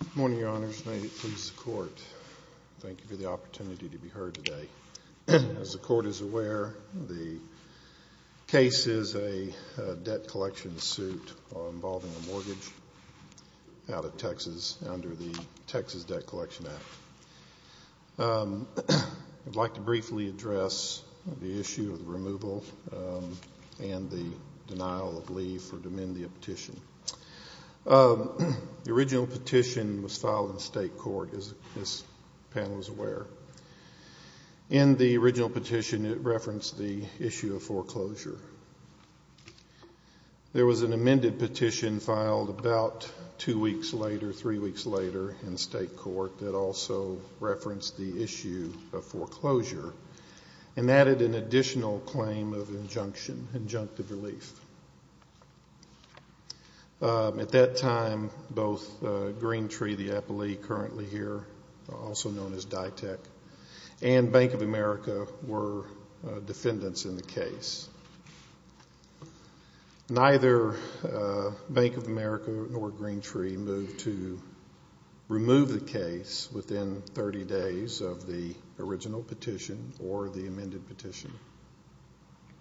Good morning, Your Honors. May it please the Court, thank you for the opportunity to be heard today. As the Court is aware, the case is a debt collection suit involving a mortgage out of Texas under the Texas Debt Collection Act. I'd like to briefly address the issue of the removal and the denial of leave for the Domenio petition. The original petition was filed in state court, as this panel is aware. In the original petition, it referenced the issue of foreclosure. There was an amended petition filed about two weeks later, three weeks later, in state court, that also referenced the issue of foreclosure and added an additional claim of injunction, injunctive relief. At that time, both Green Tree, the appellee currently here, also known as DITEC, and Bank of America were defendants in the case. Neither Bank of America nor Green Tree moved to remove the case within 30 days of the original petition or the amended petition.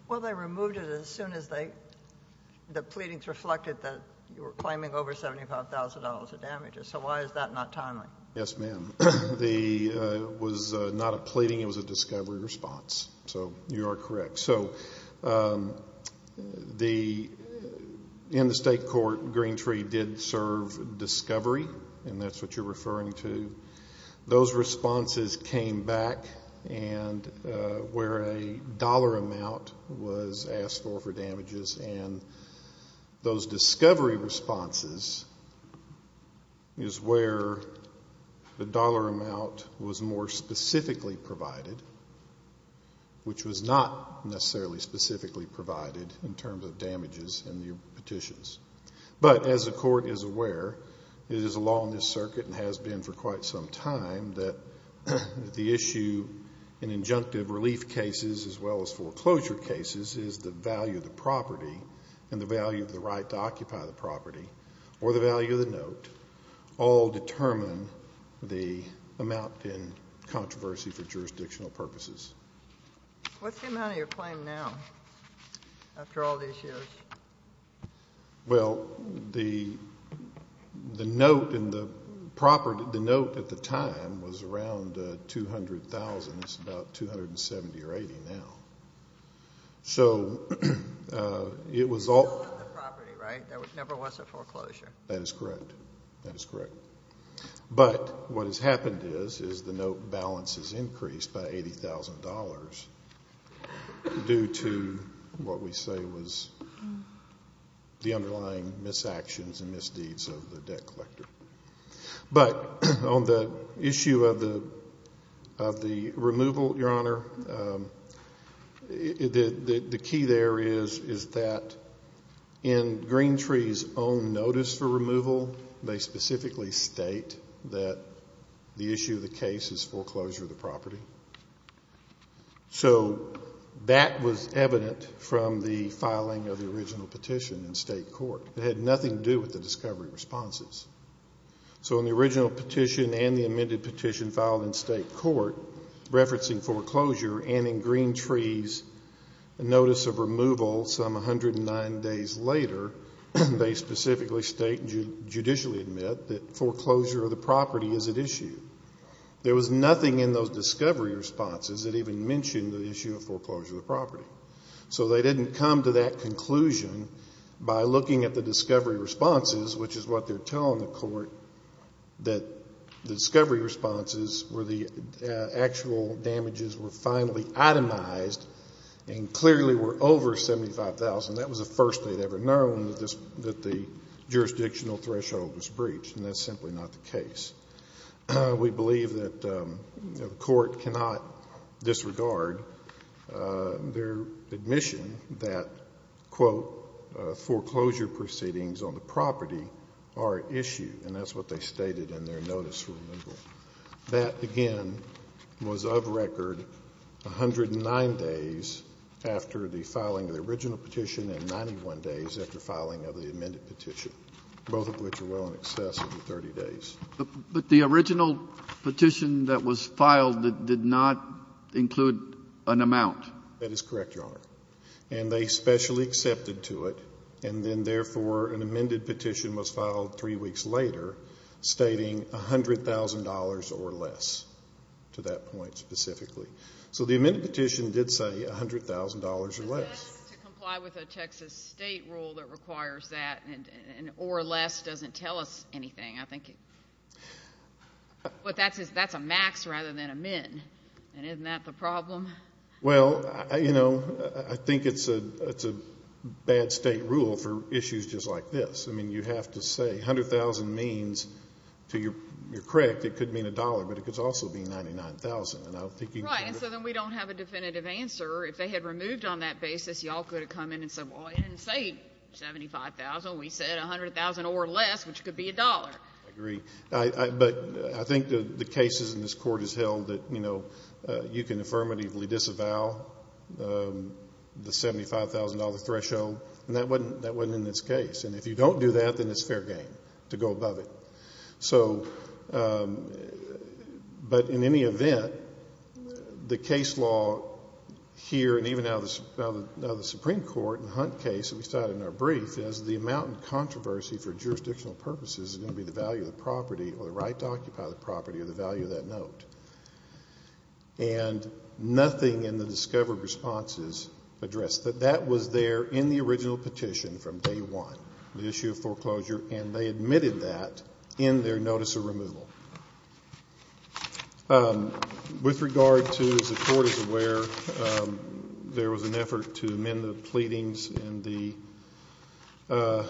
Well, they removed it as soon as the pleadings reflected that you were claiming over $75,000 of damages. So why is that not timely? Yes, ma'am. It was not a pleading. It was a discovery response. So you are correct. So in the state court, Green Tree did serve discovery, and that's what you're referring to. Those responses came back where a dollar amount was asked for for damages, and those discovery responses is where the dollar amount was more specifically provided, which was not necessarily specifically provided in terms of damages in the petitions. But as the court is aware, it is a law in this circuit and has been for quite some time that the issue in injunctive relief cases as well as foreclosure cases is the value of the property and the value of the right to occupy the property or the value of the note all determine the amount in controversy for jurisdictional purposes. What's the amount of your claim now after all these years? Well, the note and the property, the note at the time was around $200,000. It's about $270,000 or $280,000 now. So it was all of the property, right? There never was a foreclosure. That is correct. That is correct. But what has happened is the note balance has increased by $80,000 due to what we say was the underlying misactions and misdeeds of the debt collector. But on the issue of the removal, Your Honor, the key there is that in Green Tree's own notice for removal, they specifically state that the issue of the case is foreclosure of the property. So that was evident from the filing of the original petition in state court. It had nothing to do with the discovery responses. So in the original petition and the amended petition filed in state court referencing foreclosure and in Green Tree's notice of removal some 109 days later, they specifically state and judicially admit that foreclosure of the property is at issue. There was nothing in those discovery responses that even mentioned the issue of foreclosure of the property. So they didn't come to that conclusion by looking at the discovery responses, which is what they're telling the court, that the discovery responses were the actual damages were finally itemized and clearly were over $75,000. That was the first they'd ever known that the jurisdictional threshold was breached, and that's simply not the case. We believe that the court cannot disregard their admission that, quote, foreclosure proceedings on the property are at issue, and that's what they stated in their notice for removal. That, again, was of record 109 days after the filing of the original petition and 91 days after filing of the amended petition, both of which are well in excess of 30 days. But the original petition that was filed did not include an amount. That is correct, Your Honor, and they specially accepted to it, and then therefore an amended petition was filed three weeks later stating $100,000 or less to that point specifically. So the amended petition did say $100,000 or less. To comply with a Texas state rule that requires that or less doesn't tell us anything. But that's a max rather than a min, and isn't that the problem? Well, you know, I think it's a bad state rule for issues just like this. I mean, you have to say $100,000 means, you're correct, it could mean a dollar, but it could also be $99,000. Right, and so then we don't have a definitive answer. If they had removed on that basis, y'all could have come in and said, well, it didn't say $75,000. We said $100,000 or less, which could be a dollar. I agree, but I think the cases in this court has held that, you know, you can affirmatively disavow the $75,000 threshold, and that wasn't in this case. And if you don't do that, then it's fair game to go above it. So, but in any event, the case law here and even out of the Supreme Court in the Hunt case that we cited in our brief is the amount of controversy for jurisdictional purposes is going to be the value of the property or the right to occupy the property or the value of that note. And nothing in the discovered responses addressed that. That was there in the original petition from day one, the issue of foreclosure, and they admitted that in their notice of removal. With regard to, as the Court is aware, there was an effort to amend the pleadings in the,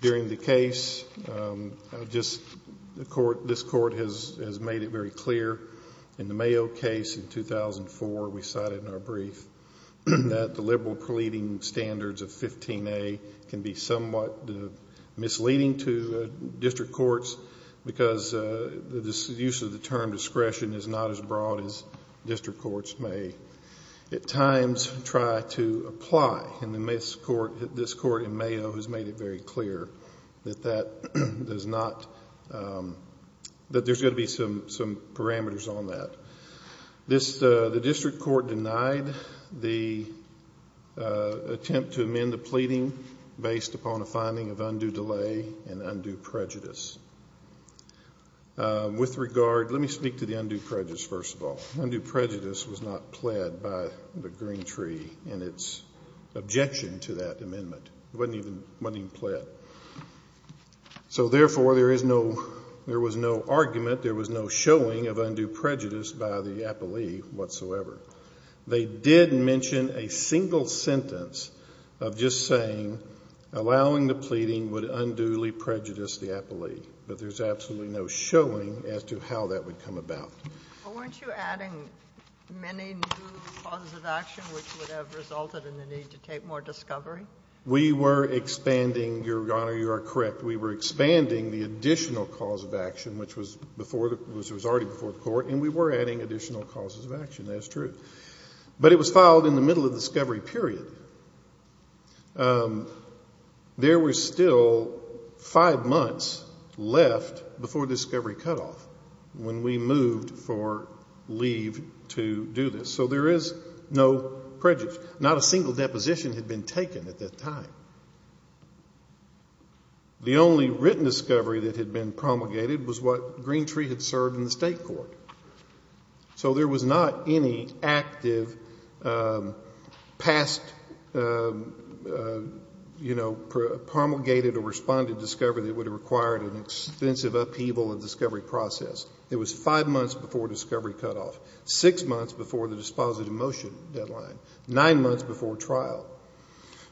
during the case, just the Court, this Court has made it very clear in the Mayo case in 2004, we cited in our brief, that the liberal pleading standards of 15A can be somewhat misleading to district courts because the use of the term discretion is not as broad as district courts may at times try to apply. And this Court in Mayo has made it very clear that that does not, that there's going to be some parameters on that. The district court denied the attempt to amend the pleading based upon a finding of undue delay and undue prejudice. With regard, let me speak to the undue prejudice first of all. Undue prejudice was not pled by the Green Tree in its objection to that amendment. It wasn't even pled. So, therefore, there is no, there was no argument, there was no showing of undue prejudice by the appellee whatsoever. They did mention a single sentence of just saying allowing the pleading would unduly prejudice the appellee, but there's absolutely no showing as to how that would come about. Well, weren't you adding many new causes of action which would have resulted in the need to take more discovery? We were expanding, Your Honor, you are correct. We were expanding the additional cause of action which was before, which was already before the Court, and we were adding additional causes of action, that is true. But it was filed in the middle of discovery period. There were still five months left before discovery cutoff when we moved for leave to do this. So there is no prejudice. Not a single deposition had been taken at that time. The only written discovery that had been promulgated was what Green Tree had served in the State Court. So there was not any active past, you know, promulgated or responded discovery that would have required an extensive upheaval of discovery process. It was five months before discovery cutoff, six months before the dispositive motion deadline, nine months before trial.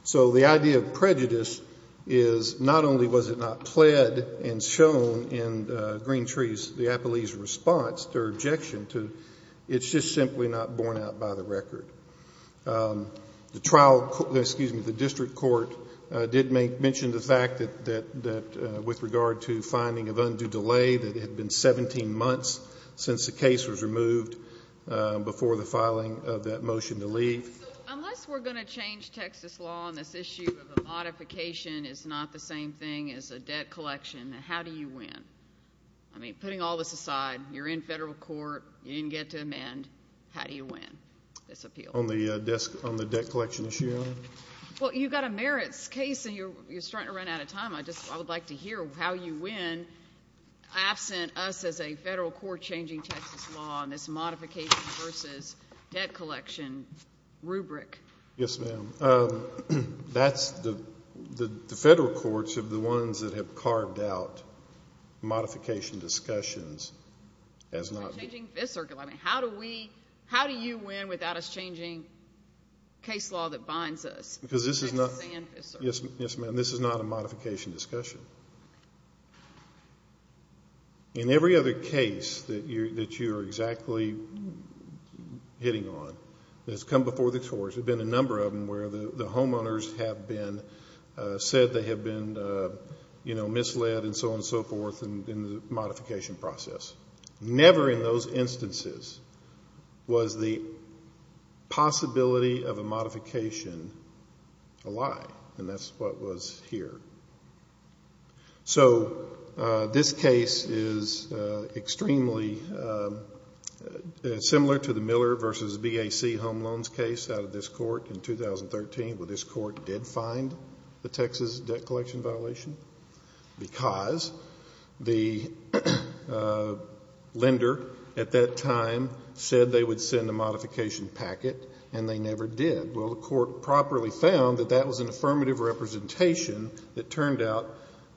So the idea of prejudice is not only was it not pled and shown in Green Tree's, the appellee's response or objection to, it's just simply not borne out by the record. The trial, excuse me, the district court did mention the fact that with regard to finding of undue delay that it had been 17 months since the case was removed before the filing of that motion to leave. Unless we're going to change Texas law on this issue of a modification is not the same thing as a debt collection, how do you win? I mean, putting all this aside, you're in federal court. You didn't get to amend. How do you win this appeal? On the debt collection issue? Well, you've got a merits case and you're starting to run out of time. I would like to hear how you win absent us as a federal court changing Texas law on this modification versus debt collection rubric. Yes, ma'am. That's the federal courts are the ones that have carved out modification discussions. How do you win without us changing case law that binds us? Yes, ma'am. And this is not a modification discussion. In every other case that you're exactly hitting on that's come before the courts, there have been a number of them where the homeowners have been said they have been, you know, misled and so on and so forth in the modification process. Never in those instances was the possibility of a modification a lie, and that's what was here. So this case is extremely similar to the Miller versus BAC home loans case out of this court in 2013 where this court did find the Texas debt collection violation because the lender at that time said they would send a modification packet and they never did. Well, the court properly found that that was an affirmative representation that turned out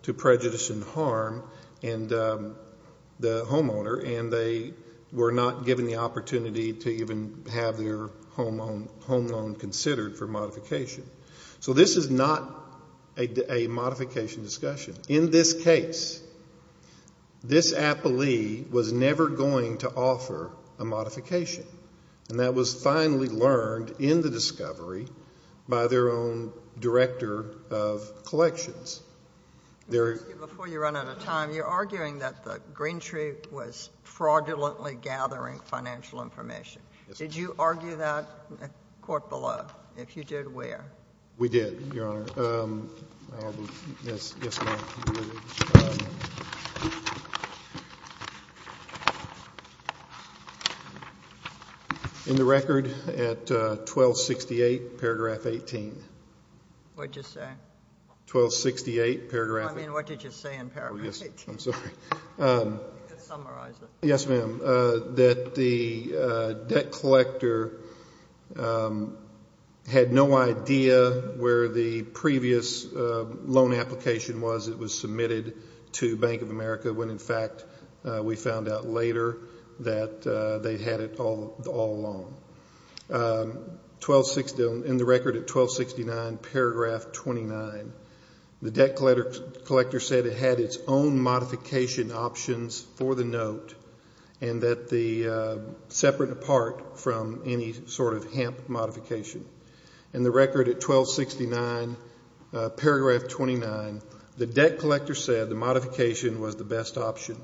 to prejudice and harm the homeowner, and they were not given the opportunity to even have their home loan considered for modification. So this is not a modification discussion. In this case, this appellee was never going to offer a modification, and that was finally learned in the discovery by their own director of collections. Before you run out of time, you're arguing that the green tree was fraudulently gathering financial information. Did you argue that at court below? If you did, where? We did, Your Honor. Yes, ma'am. In the record at 1268, paragraph 18. What did you say? 1268, paragraph 18. Yes, ma'am. You can summarize it. Yes, ma'am, that the debt collector had no idea where the previous loan application was. It was submitted to Bank of America when, in fact, we found out later that they had it all along. In the record at 1269, paragraph 29, the debt collector said it had its own modification options for the note and that the separate apart from any sort of hemp modification. In the record at 1269, paragraph 29, the debt collector said the modification was the best option.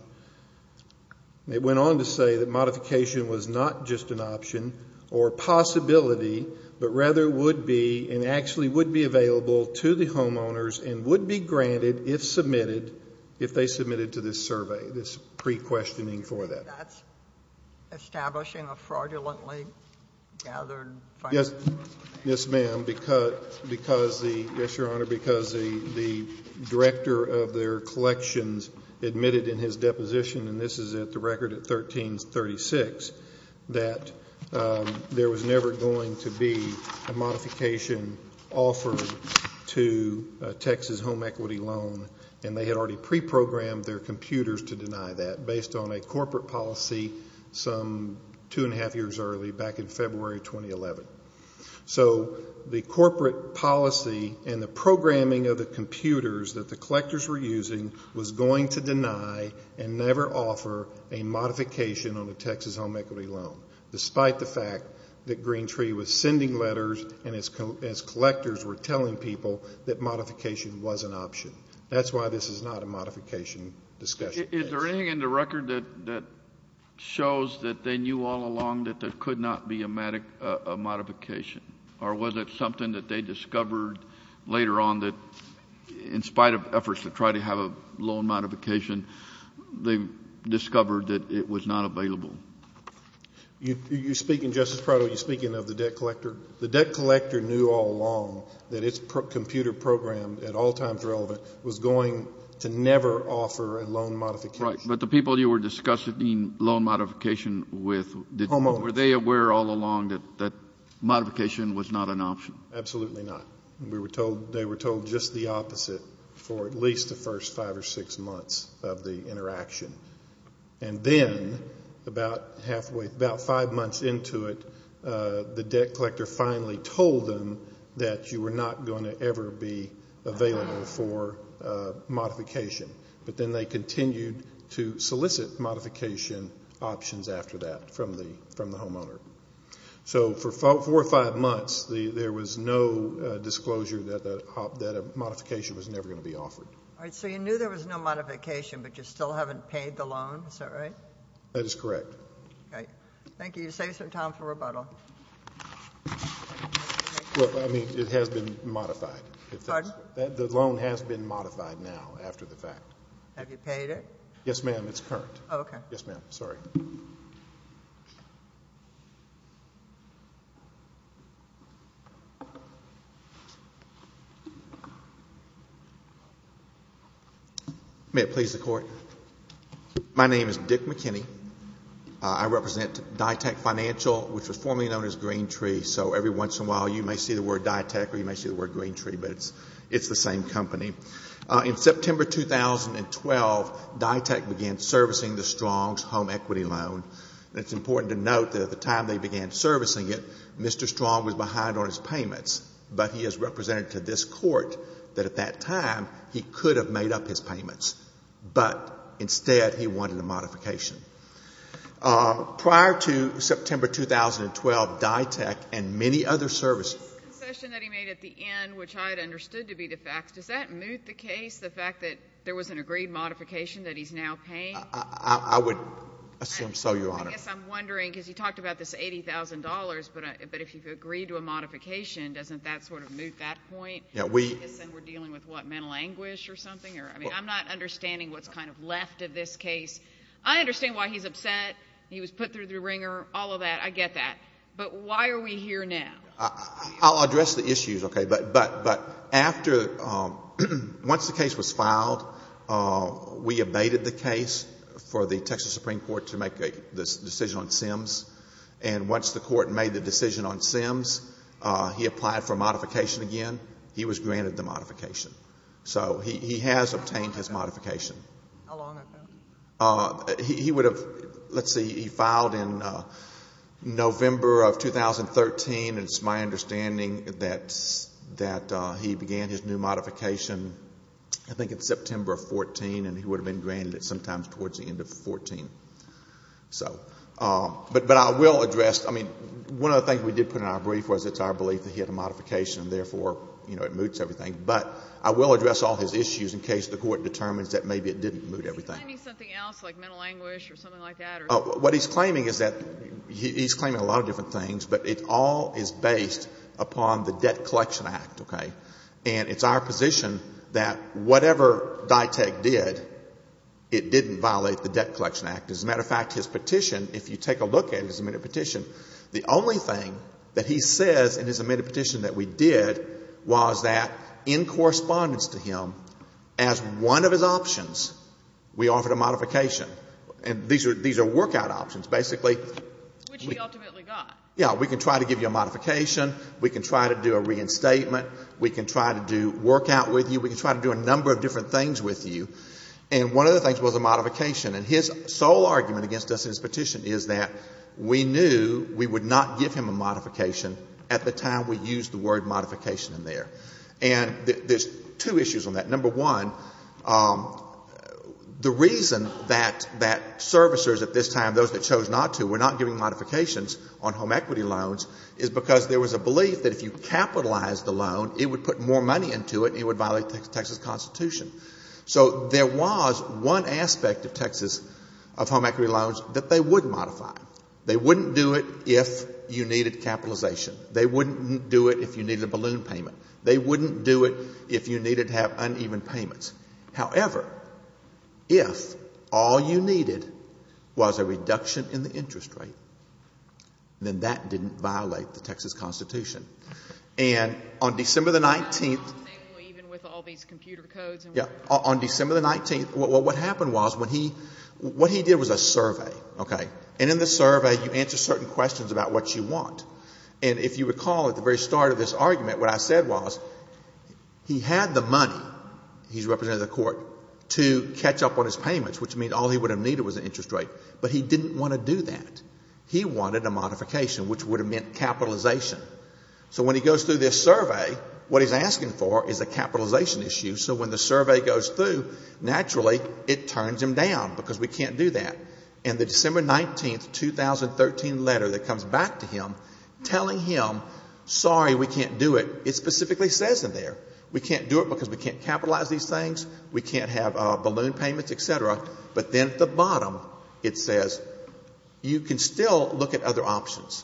It went on to say that modification was not just an option or possibility, but rather would be and actually would be available to the homeowners and would be granted if submitted to this survey, this pre-questioning for that. That's establishing a fraudulently gathered financial information? Yes, ma'am. Yes, Your Honor, because the director of their collections admitted in his deposition, and this is at the record at 1336, that there was never going to be a modification offered to a Texas home equity loan, and they had already pre-programmed their computers to deny that based on a corporate policy some two and a half years early back in February 2011. So the corporate policy and the programming of the computers that the collectors were using was going to deny and never offer a modification on a Texas home equity loan, despite the fact that Green Tree was sending letters and its collectors were telling people that modification was an option. That's why this is not a modification discussion. Is there anything in the record that shows that they knew all along that there could not be a modification, or was it something that they discovered later on that, in spite of efforts to try to have a loan modification, they discovered that it was not available? You're speaking, Justice Prado, you're speaking of the debt collector. The debt collector knew all along that its computer program, at all times relevant, was going to never offer a loan modification. Right. But the people you were discussing loan modification with, were they aware all along that modification was not an option? Absolutely not. They were told just the opposite for at least the first five or six months of the interaction. And then about five months into it, the debt collector finally told them that you were not going to ever be available for modification. But then they continued to solicit modification options after that from the homeowner. So for four or five months, there was no disclosure that a modification was never going to be offered. All right. So you knew there was no modification, but you still haven't paid the loan. Is that right? That is correct. Thank you. You saved some time for rebuttal. Well, I mean, it has been modified. Pardon? The loan has been modified now after the fact. Have you paid it? Yes, ma'am. It's current. Okay. Yes, ma'am. Sorry. May it please the Court. My name is Dick McKinney. I represent DyTek Financial, which was formerly known as Green Tree. So every once in a while you may see the word DyTek or you may see the word Green Tree, but it's the same company. In September 2012, DyTek began servicing the Strong's home equity loan. And it's important to note that at the time they began servicing it, Mr. Strong was behind on his payments, but he has represented to this Court that at that time he could have made up his payments, but instead he wanted a modification. Prior to September 2012, DyTek and many other services The concession that he made at the end, which I had understood to be the fact, does that moot the case, the fact that there was an agreed modification that he's now paying? I would assume so, Your Honor. I guess I'm wondering, because you talked about this $80,000, but if you've agreed to a modification, doesn't that sort of moot that point? Yeah, we Because then we're dealing with what, mental anguish or something? I mean, I'm not understanding what's kind of left of this case. I understand why he's upset. He was put through the wringer, all of that. I get that. But why are we here now? I'll address the issues, okay, but after, once the case was filed, we abated the case for the Texas Supreme Court to make the decision on Sims, and once the Court made the decision on Sims, he applied for modification again. He was granted the modification. So he has obtained his modification. How long ago? He would have, let's see, he filed in November of 2013, and it's my understanding that he began his new modification, I think, in September of 14, and he would have been granted it sometimes towards the end of 14. So, but I will address, I mean, one of the things we did put in our brief was it's our belief that he had a modification, and therefore, you know, it moots everything. But I will address all his issues in case the Court determines that maybe it didn't moot everything. Is he claiming something else, like mental anguish or something like that? What he's claiming is that he's claiming a lot of different things, but it all is based upon the Debt Collection Act, okay? And it's our position that whatever DITEC did, it didn't violate the Debt Collection Act. As a matter of fact, his petition, if you take a look at his amended petition, the only thing that he says in his amended petition that we did was that in correspondence to him, as one of his options, we offered a modification. And these are workout options, basically. Which he ultimately got. Yeah. We can try to give you a modification. We can try to do a reinstatement. We can try to do workout with you. We can try to do a number of different things with you. And one of the things was a modification. And his sole argument against us in his petition is that we knew we would not give him a modification at the time we used the word modification in there. And there's two issues on that. Number one, the reason that servicers at this time, those that chose not to, were not giving modifications on home equity loans, is because there was a belief that if you capitalized the loan, it would put more money into it and it would violate the Texas Constitution. So there was one aspect of Texas, of home equity loans, that they would modify. They wouldn't do it if you needed capitalization. They wouldn't do it if you needed a balloon payment. They wouldn't do it if you needed to have uneven payments. However, if all you needed was a reduction in the interest rate, then that didn't violate the Texas Constitution. And on December the 19th. Even with all these computer codes. Yeah. On December the 19th, what happened was when he, what he did was a survey, okay? And in the survey, you answer certain questions about what you want. And if you recall, at the very start of this argument, what I said was, he had the money, he's representing the court, to catch up on his payments, which means all he would have needed was an interest rate. But he didn't want to do that. He wanted a modification, which would have meant capitalization. So when he goes through this survey, what he's asking for is a capitalization issue. So when the survey goes through, naturally, it turns him down, because we can't do that. And the December 19th, 2013 letter that comes back to him, telling him, sorry, we can't do it, it specifically says in there, we can't do it because we can't capitalize these things, we can't have balloon payments, et cetera. But then at the bottom, it says, you can still look at other options.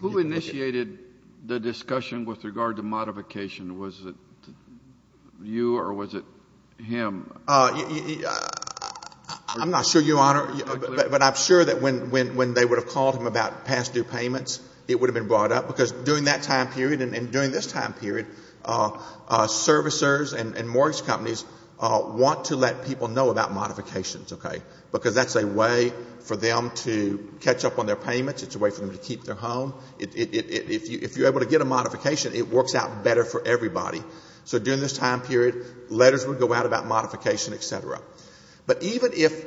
Who initiated the discussion with regard to modification? Was it you or was it him? I'm not sure, Your Honor. But I'm sure that when they would have called him about past due payments, it would have been brought up, because during that time period and during this time period, servicers and mortgage companies want to let people know about modifications, okay, because that's a way for them to catch up on their payments. It's a way for them to keep their home. If you're able to get a modification, it works out better for everybody. So during this time period, letters would go out about modification, et cetera. But even if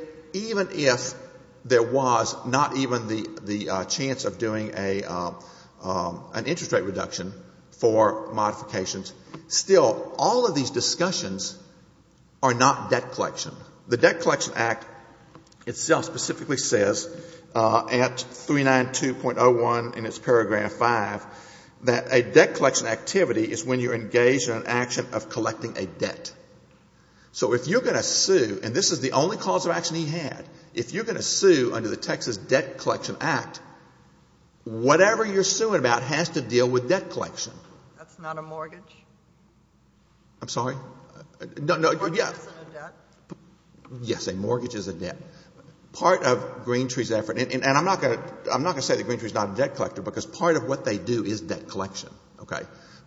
there was not even the chance of doing an interest rate reduction for modifications, still, all of these discussions are not debt collection. The Debt Collection Act itself specifically says at 392.01 in its paragraph 5, that a debt collection activity is when you're engaged in an action of collecting a debt. So if you're going to sue, and this is the only cause of action he had, if you're going to sue under the Texas Debt Collection Act, whatever you're suing about has to deal with debt collection. That's not a mortgage. I'm sorry? A mortgage isn't a debt. Yes, a mortgage is a debt. Part of Green Tree's effort, and I'm not going to say that Green Tree is not a debt collector, because part of what they do is debt collection. Okay?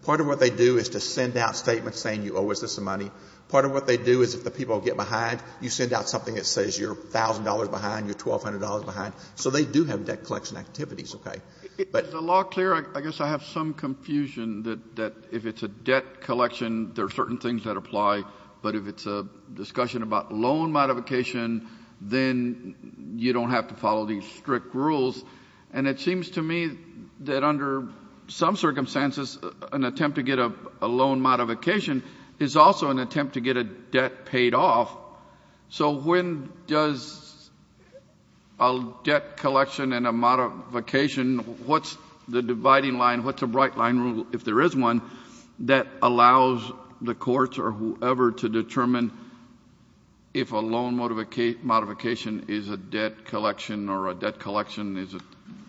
Part of what they do is to send out statements saying you owe us this money. Part of what they do is if the people get behind, you send out something that says you're $1,000 behind, you're $1,200 behind. So they do have debt collection activities. Okay? But the law clear, I guess I have some confusion that if it's a debt collection, there are certain things that apply. But if it's a discussion about loan modification, then you don't have to follow these strict rules. And it seems to me that under some circumstances, an attempt to get a loan modification is also an attempt to get a debt paid off. So when does a debt collection and a modification, what's the dividing line, what's a bright line rule, if there is one, that allows the courts or whoever to determine if a loan modification is a debt collection or a debt collection is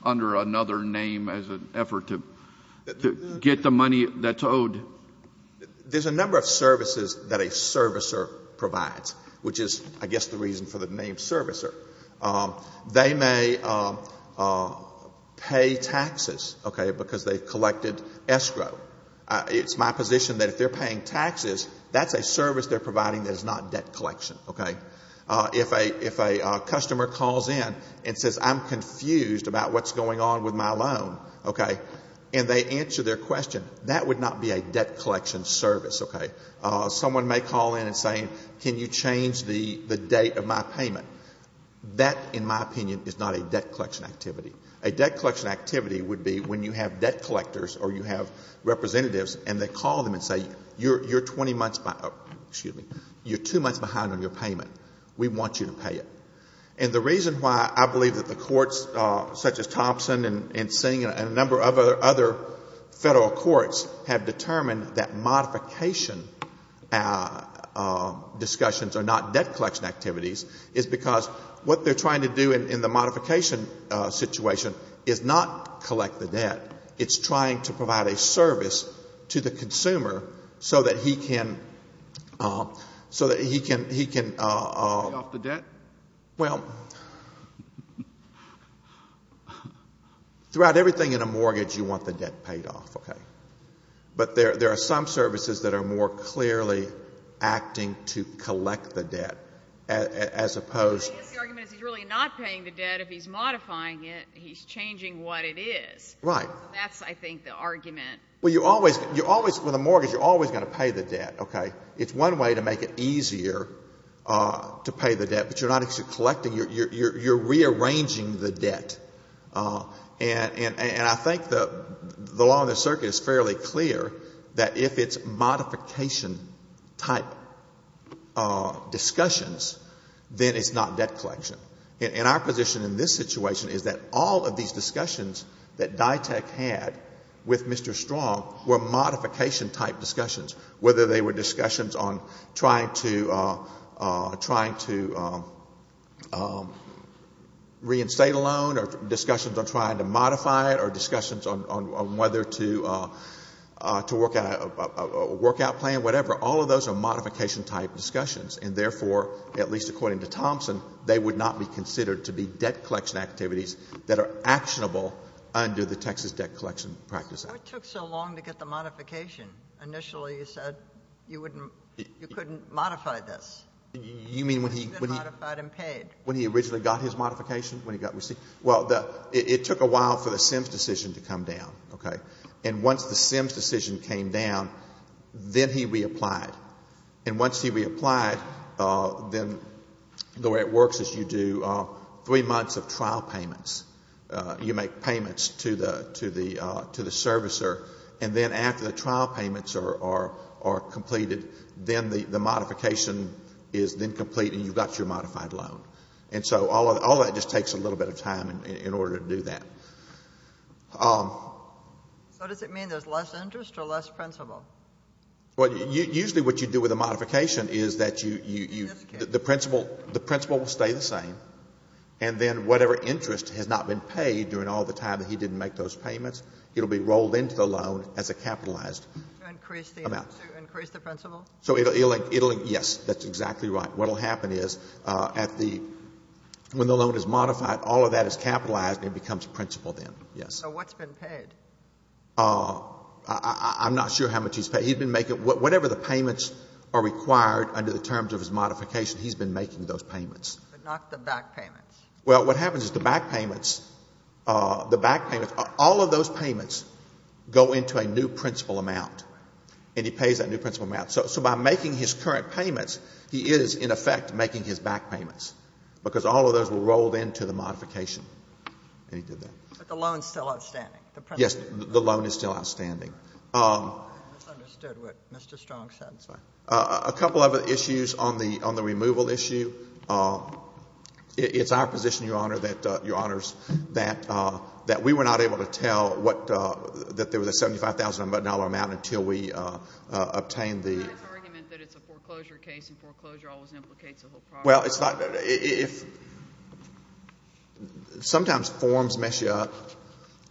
under another name as an effort to get the money that's owed? There's a number of services that a servicer provides, which is, I guess, the reason for the name servicer. They may pay taxes, okay, because they've collected escrow. It's my position that if they're paying taxes, that's a service they're providing that is not debt collection. Okay? If a customer calls in and says, I'm confused about what's going on with my loan, okay, and they answer their question, that would not be a debt collection service, okay? Someone may call in and say, can you change the date of my payment? That, in my opinion, is not a debt collection activity. A debt collection activity would be when you have debt collectors or you have representatives and they call them and say, you're 20 months, excuse me, you're two months behind on your payment. We want you to pay it. And the reason why I believe that the courts, such as Thompson and Singh and a number of other federal courts, have determined that modification discussions are not debt collection activities is because what they're trying to do in the modification situation is not collect the debt. It's trying to provide a service to the consumer so that he can, so that he can. Pay off the debt? Well, throughout everything in a mortgage, you want the debt paid off, okay? But there are some services that are more clearly acting to collect the debt, as opposed. The argument is he's really not paying the debt. If he's modifying it, he's changing what it is. Right. That's, I think, the argument. Well, you always, with a mortgage, you're always going to pay the debt, okay? It's one way to make it easier to pay the debt, but you're not actually collecting. You're rearranging the debt. And I think the law on the circuit is fairly clear that if it's modification-type discussions, then it's not debt collection. And our position in this situation is that all of these discussions that DITAC had with Mr. Strong were modification-type discussions, whether they were discussions on trying to reinstate a loan or discussions on trying to modify it or discussions on whether to work out a workout plan, whatever. All of those are modification-type discussions. And, therefore, at least according to Thompson, they would not be considered to be debt collection activities that are actionable under the Texas Debt Collection Practice Act. What took so long to get the modification? Initially, you said you couldn't modify this. You mean when he originally got his modification, when he got received? Well, it took a while for the SIMS decision to come down, okay? And once the SIMS decision came down, then he reapplied. And once he reapplied, then the way it works is you do three months of trial payments. You make payments to the servicer. And then after the trial payments are completed, then the modification is then complete and you've got your modified loan. And so all that just takes a little bit of time in order to do that. So does it mean there's less interest or less principle? Well, usually what you do with a modification is that you — The principle will stay the same. And then whatever interest has not been paid during all the time that he didn't make those payments, it will be rolled into the loan as a capitalized amount. To increase the principle? Yes, that's exactly right. What will happen is at the — when the loan is modified, all of that is capitalized and it becomes principle then, yes. So what's been paid? I'm not sure how much he's paid. He's been making — whatever the payments are required under the terms of his modification, he's been making those payments. But not the back payments. Well, what happens is the back payments, the back payments, all of those payments go into a new principle amount, and he pays that new principle amount. So by making his current payments, he is, in effect, making his back payments because all of those were rolled into the modification, and he did that. But the loan is still outstanding? Yes, the loan is still outstanding. I misunderstood what Mr. Strong said. A couple of issues on the removal issue. It's our position, Your Honor, that we were not able to tell that there was a $75,000 amount until we obtained the — But that's an argument that it's a foreclosure case, and foreclosure always implicates a whole process. Well, it's not — sometimes forms mess you up,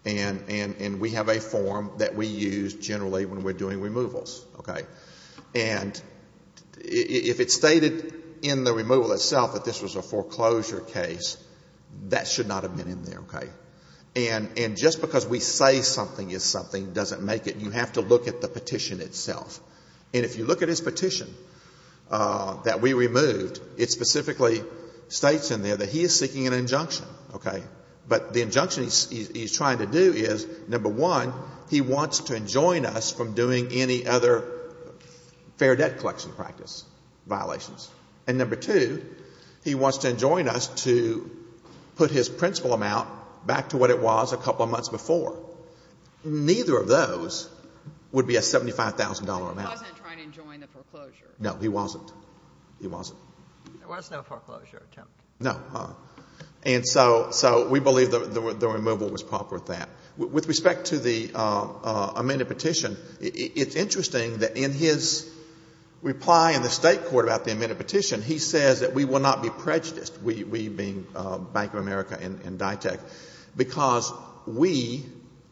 and we have a form that we use generally when we're doing removals, okay? And if it's stated in the removal itself that this was a foreclosure case, that should not have been in there, okay? And just because we say something is something doesn't make it. You have to look at the petition itself. And if you look at his petition that we removed, it specifically states in there that he is seeking an injunction, okay? But the injunction he's trying to do is, number one, he wants to enjoin us from doing any other fair debt collection practice violations. And number two, he wants to enjoin us to put his principal amount back to what it was a couple of months before. Neither of those would be a $75,000 amount. But he wasn't trying to enjoin the foreclosure. No, he wasn't. He wasn't. There was no foreclosure attempt. No. And so we believe the removal was proper with that. With respect to the amended petition, it's interesting that in his reply in the State court about the amended petition, he says that we will not be prejudiced, we being Bank of America and DITAC, because we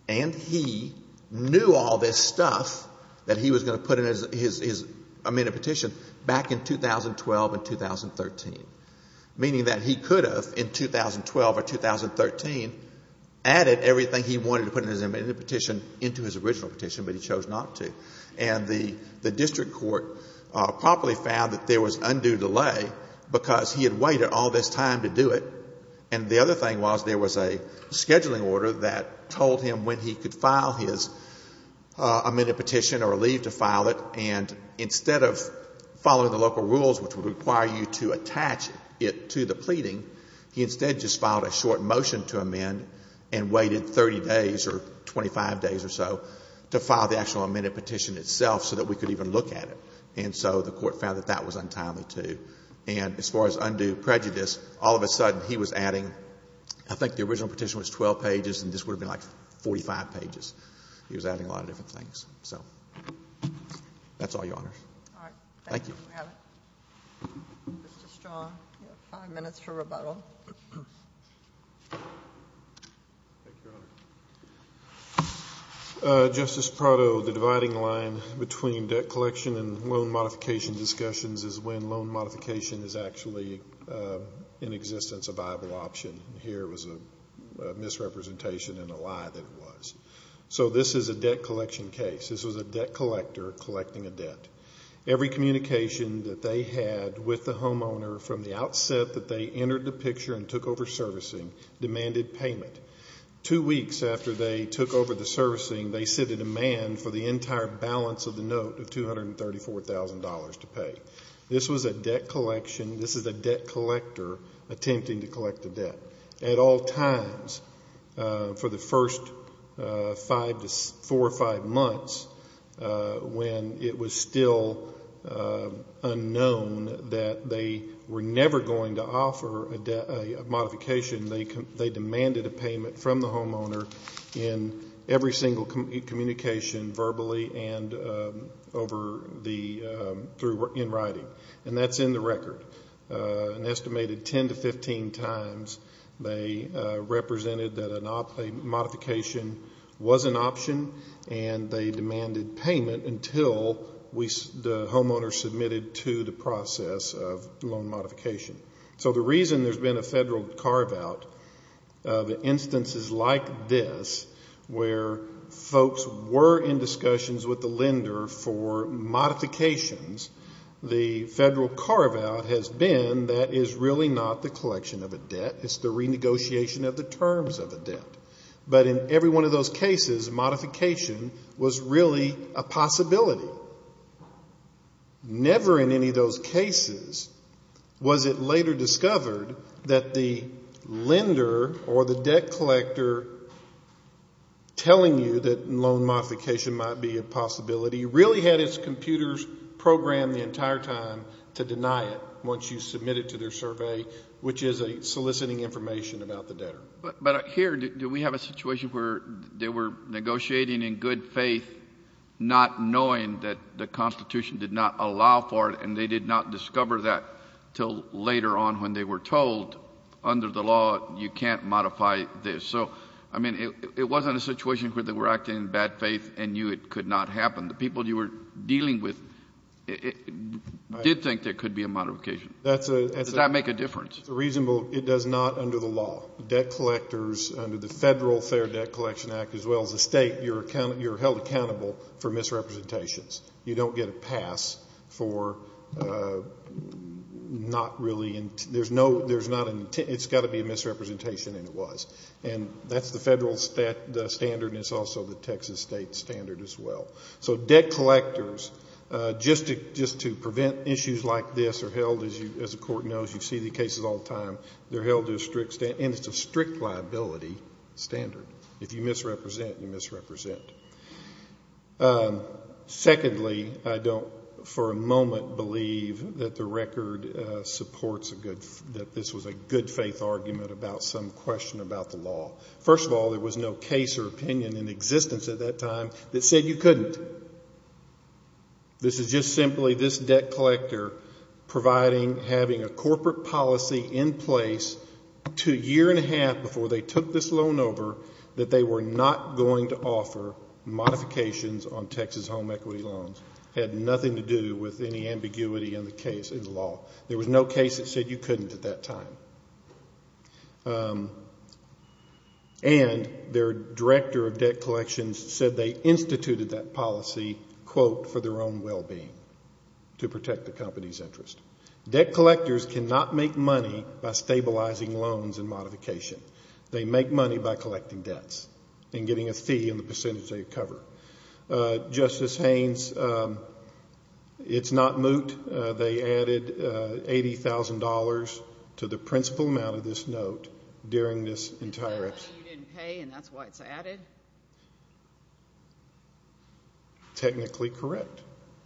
and he knew all this stuff that he was going to put in his amended petition back in 2012 and 2013, meaning that he could have in 2012 or 2013 added everything he wanted to put in his amended petition into his original petition, but he chose not to. And the district court properly found that there was undue delay because he had waited all this time to do it. And the other thing was there was a scheduling order that told him when he could file his amended petition or leave to file it. And instead of following the local rules, which would require you to attach it to the pleading, he instead just filed a short motion to amend and waited 30 days or 25 days or so to file the actual amended petition itself so that we could even look at it. And so the court found that that was untimely, too. And as far as undue prejudice, all of a sudden he was adding, I think the original petition was 12 pages and this would have been like 45 pages. He was adding a lot of different things. So that's all, Your Honors. Thank you. Mr. Strong, you have five minutes for rebuttal. Thank you, Your Honor. Justice Prado, the dividing line between debt collection and loan modification discussions is when loan modification is actually in existence a viable option. Here it was a misrepresentation and a lie that it was. So this is a debt collection case. This was a debt collector collecting a debt. Every communication that they had with the homeowner from the outset that they entered the picture and took over servicing demanded payment. Two weeks after they took over the servicing, they set a demand for the entire balance of the note of $234,000 to pay. This was a debt collection. This is a debt collector attempting to collect a debt. At all times, for the first five to four or five months, when it was still unknown that they were never going to offer a modification, they demanded a payment from the homeowner in every single communication, verbally and in writing. And that's in the record. An estimated 10 to 15 times they represented that a modification was an option and they demanded payment until the homeowner submitted to the process of loan modification. So the reason there's been a federal carve-out of instances like this where folks were in discussions with the lender for modifications, the federal carve-out has been that is really not the collection of a debt. It's the renegotiation of the terms of a debt. But in every one of those cases, modification was really a possibility. Never in any of those cases was it later discovered that the lender or the debt collector telling you that loan modification might be a possibility but he really had his computers programmed the entire time to deny it once you submit it to their survey, which is soliciting information about the debtor. But here, do we have a situation where they were negotiating in good faith, not knowing that the Constitution did not allow for it and they did not discover that until later on when they were told, under the law, you can't modify this. So, I mean, it wasn't a situation where they were acting in bad faith and knew it could not happen. The people you were dealing with did think there could be a modification. Does that make a difference? It's reasonable. It does not under the law. Debt collectors, under the Federal Fair Debt Collection Act, as well as the state, you're held accountable for misrepresentations. You don't get a pass for not really into it. It's got to be a misrepresentation, and it was. And that's the federal standard, and it's also the Texas state standard as well. So debt collectors, just to prevent issues like this, are held, as the court knows, you see the cases all the time, they're held to a strict standard, and it's a strict liability standard. If you misrepresent, you misrepresent. Secondly, I don't, for a moment, believe that the record supports that this was a good faith argument about some question about the law. First of all, there was no case or opinion in existence at that time that said you couldn't. This is just simply this debt collector providing, having a corporate policy in place to a year and a half before they took this loan over that they were not going to offer modifications on Texas home equity loans. It had nothing to do with any ambiguity in the case, in the law. There was no case that said you couldn't at that time. And their director of debt collections said they instituted that policy, quote, for their own well-being, to protect the company's interest. Debt collectors cannot make money by stabilizing loans and modification. They make money by collecting debts and getting a fee on the percentage they cover. Justice Haynes, it's not moot. They added $80,000 to the principal amount of this note during this entire episode. You didn't pay, and that's why it's added? Technically correct.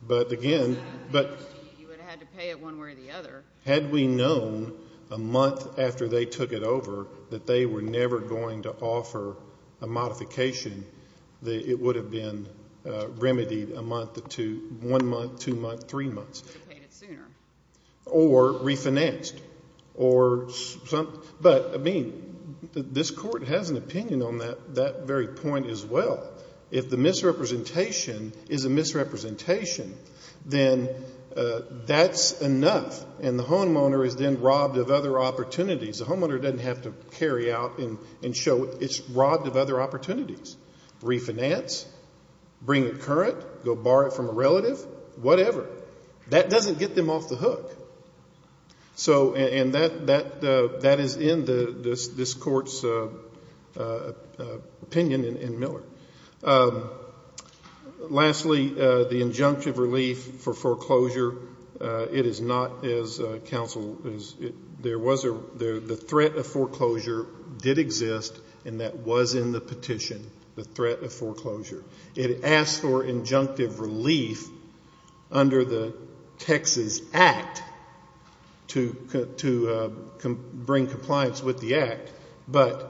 But, again, but you would have had to pay it one way or the other. Had we known a month after they took it over that they were never going to offer a modification, it would have been remedied a month to one month, two months, three months. You could have paid it sooner. Or refinanced. But, I mean, this court has an opinion on that very point as well. If the misrepresentation is a misrepresentation, then that's enough, and the homeowner is then robbed of other opportunities. The homeowner doesn't have to carry out and show it's robbed of other opportunities. Refinance, bring it current, go borrow it from a relative, whatever. That doesn't get them off the hook. And that is in this court's opinion in Miller. Lastly, the injunctive relief for foreclosure, it is not as counsel, the threat of foreclosure did exist, and that was in the petition, the threat of foreclosure. It asked for injunctive relief under the Texas Act to bring compliance with the Act, but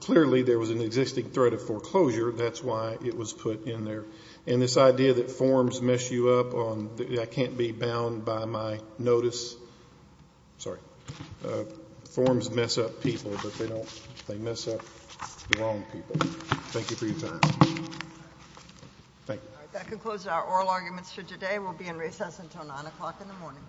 clearly there was an existing threat of foreclosure. That's why it was put in there. And this idea that forms mess you up on, I can't be bound by my notice, sorry, forms mess up people, but they don't, they mess up the wrong people. Thank you for your time. Thank you. That concludes our oral arguments for today. We'll be in recess until 9 o'clock in the morning.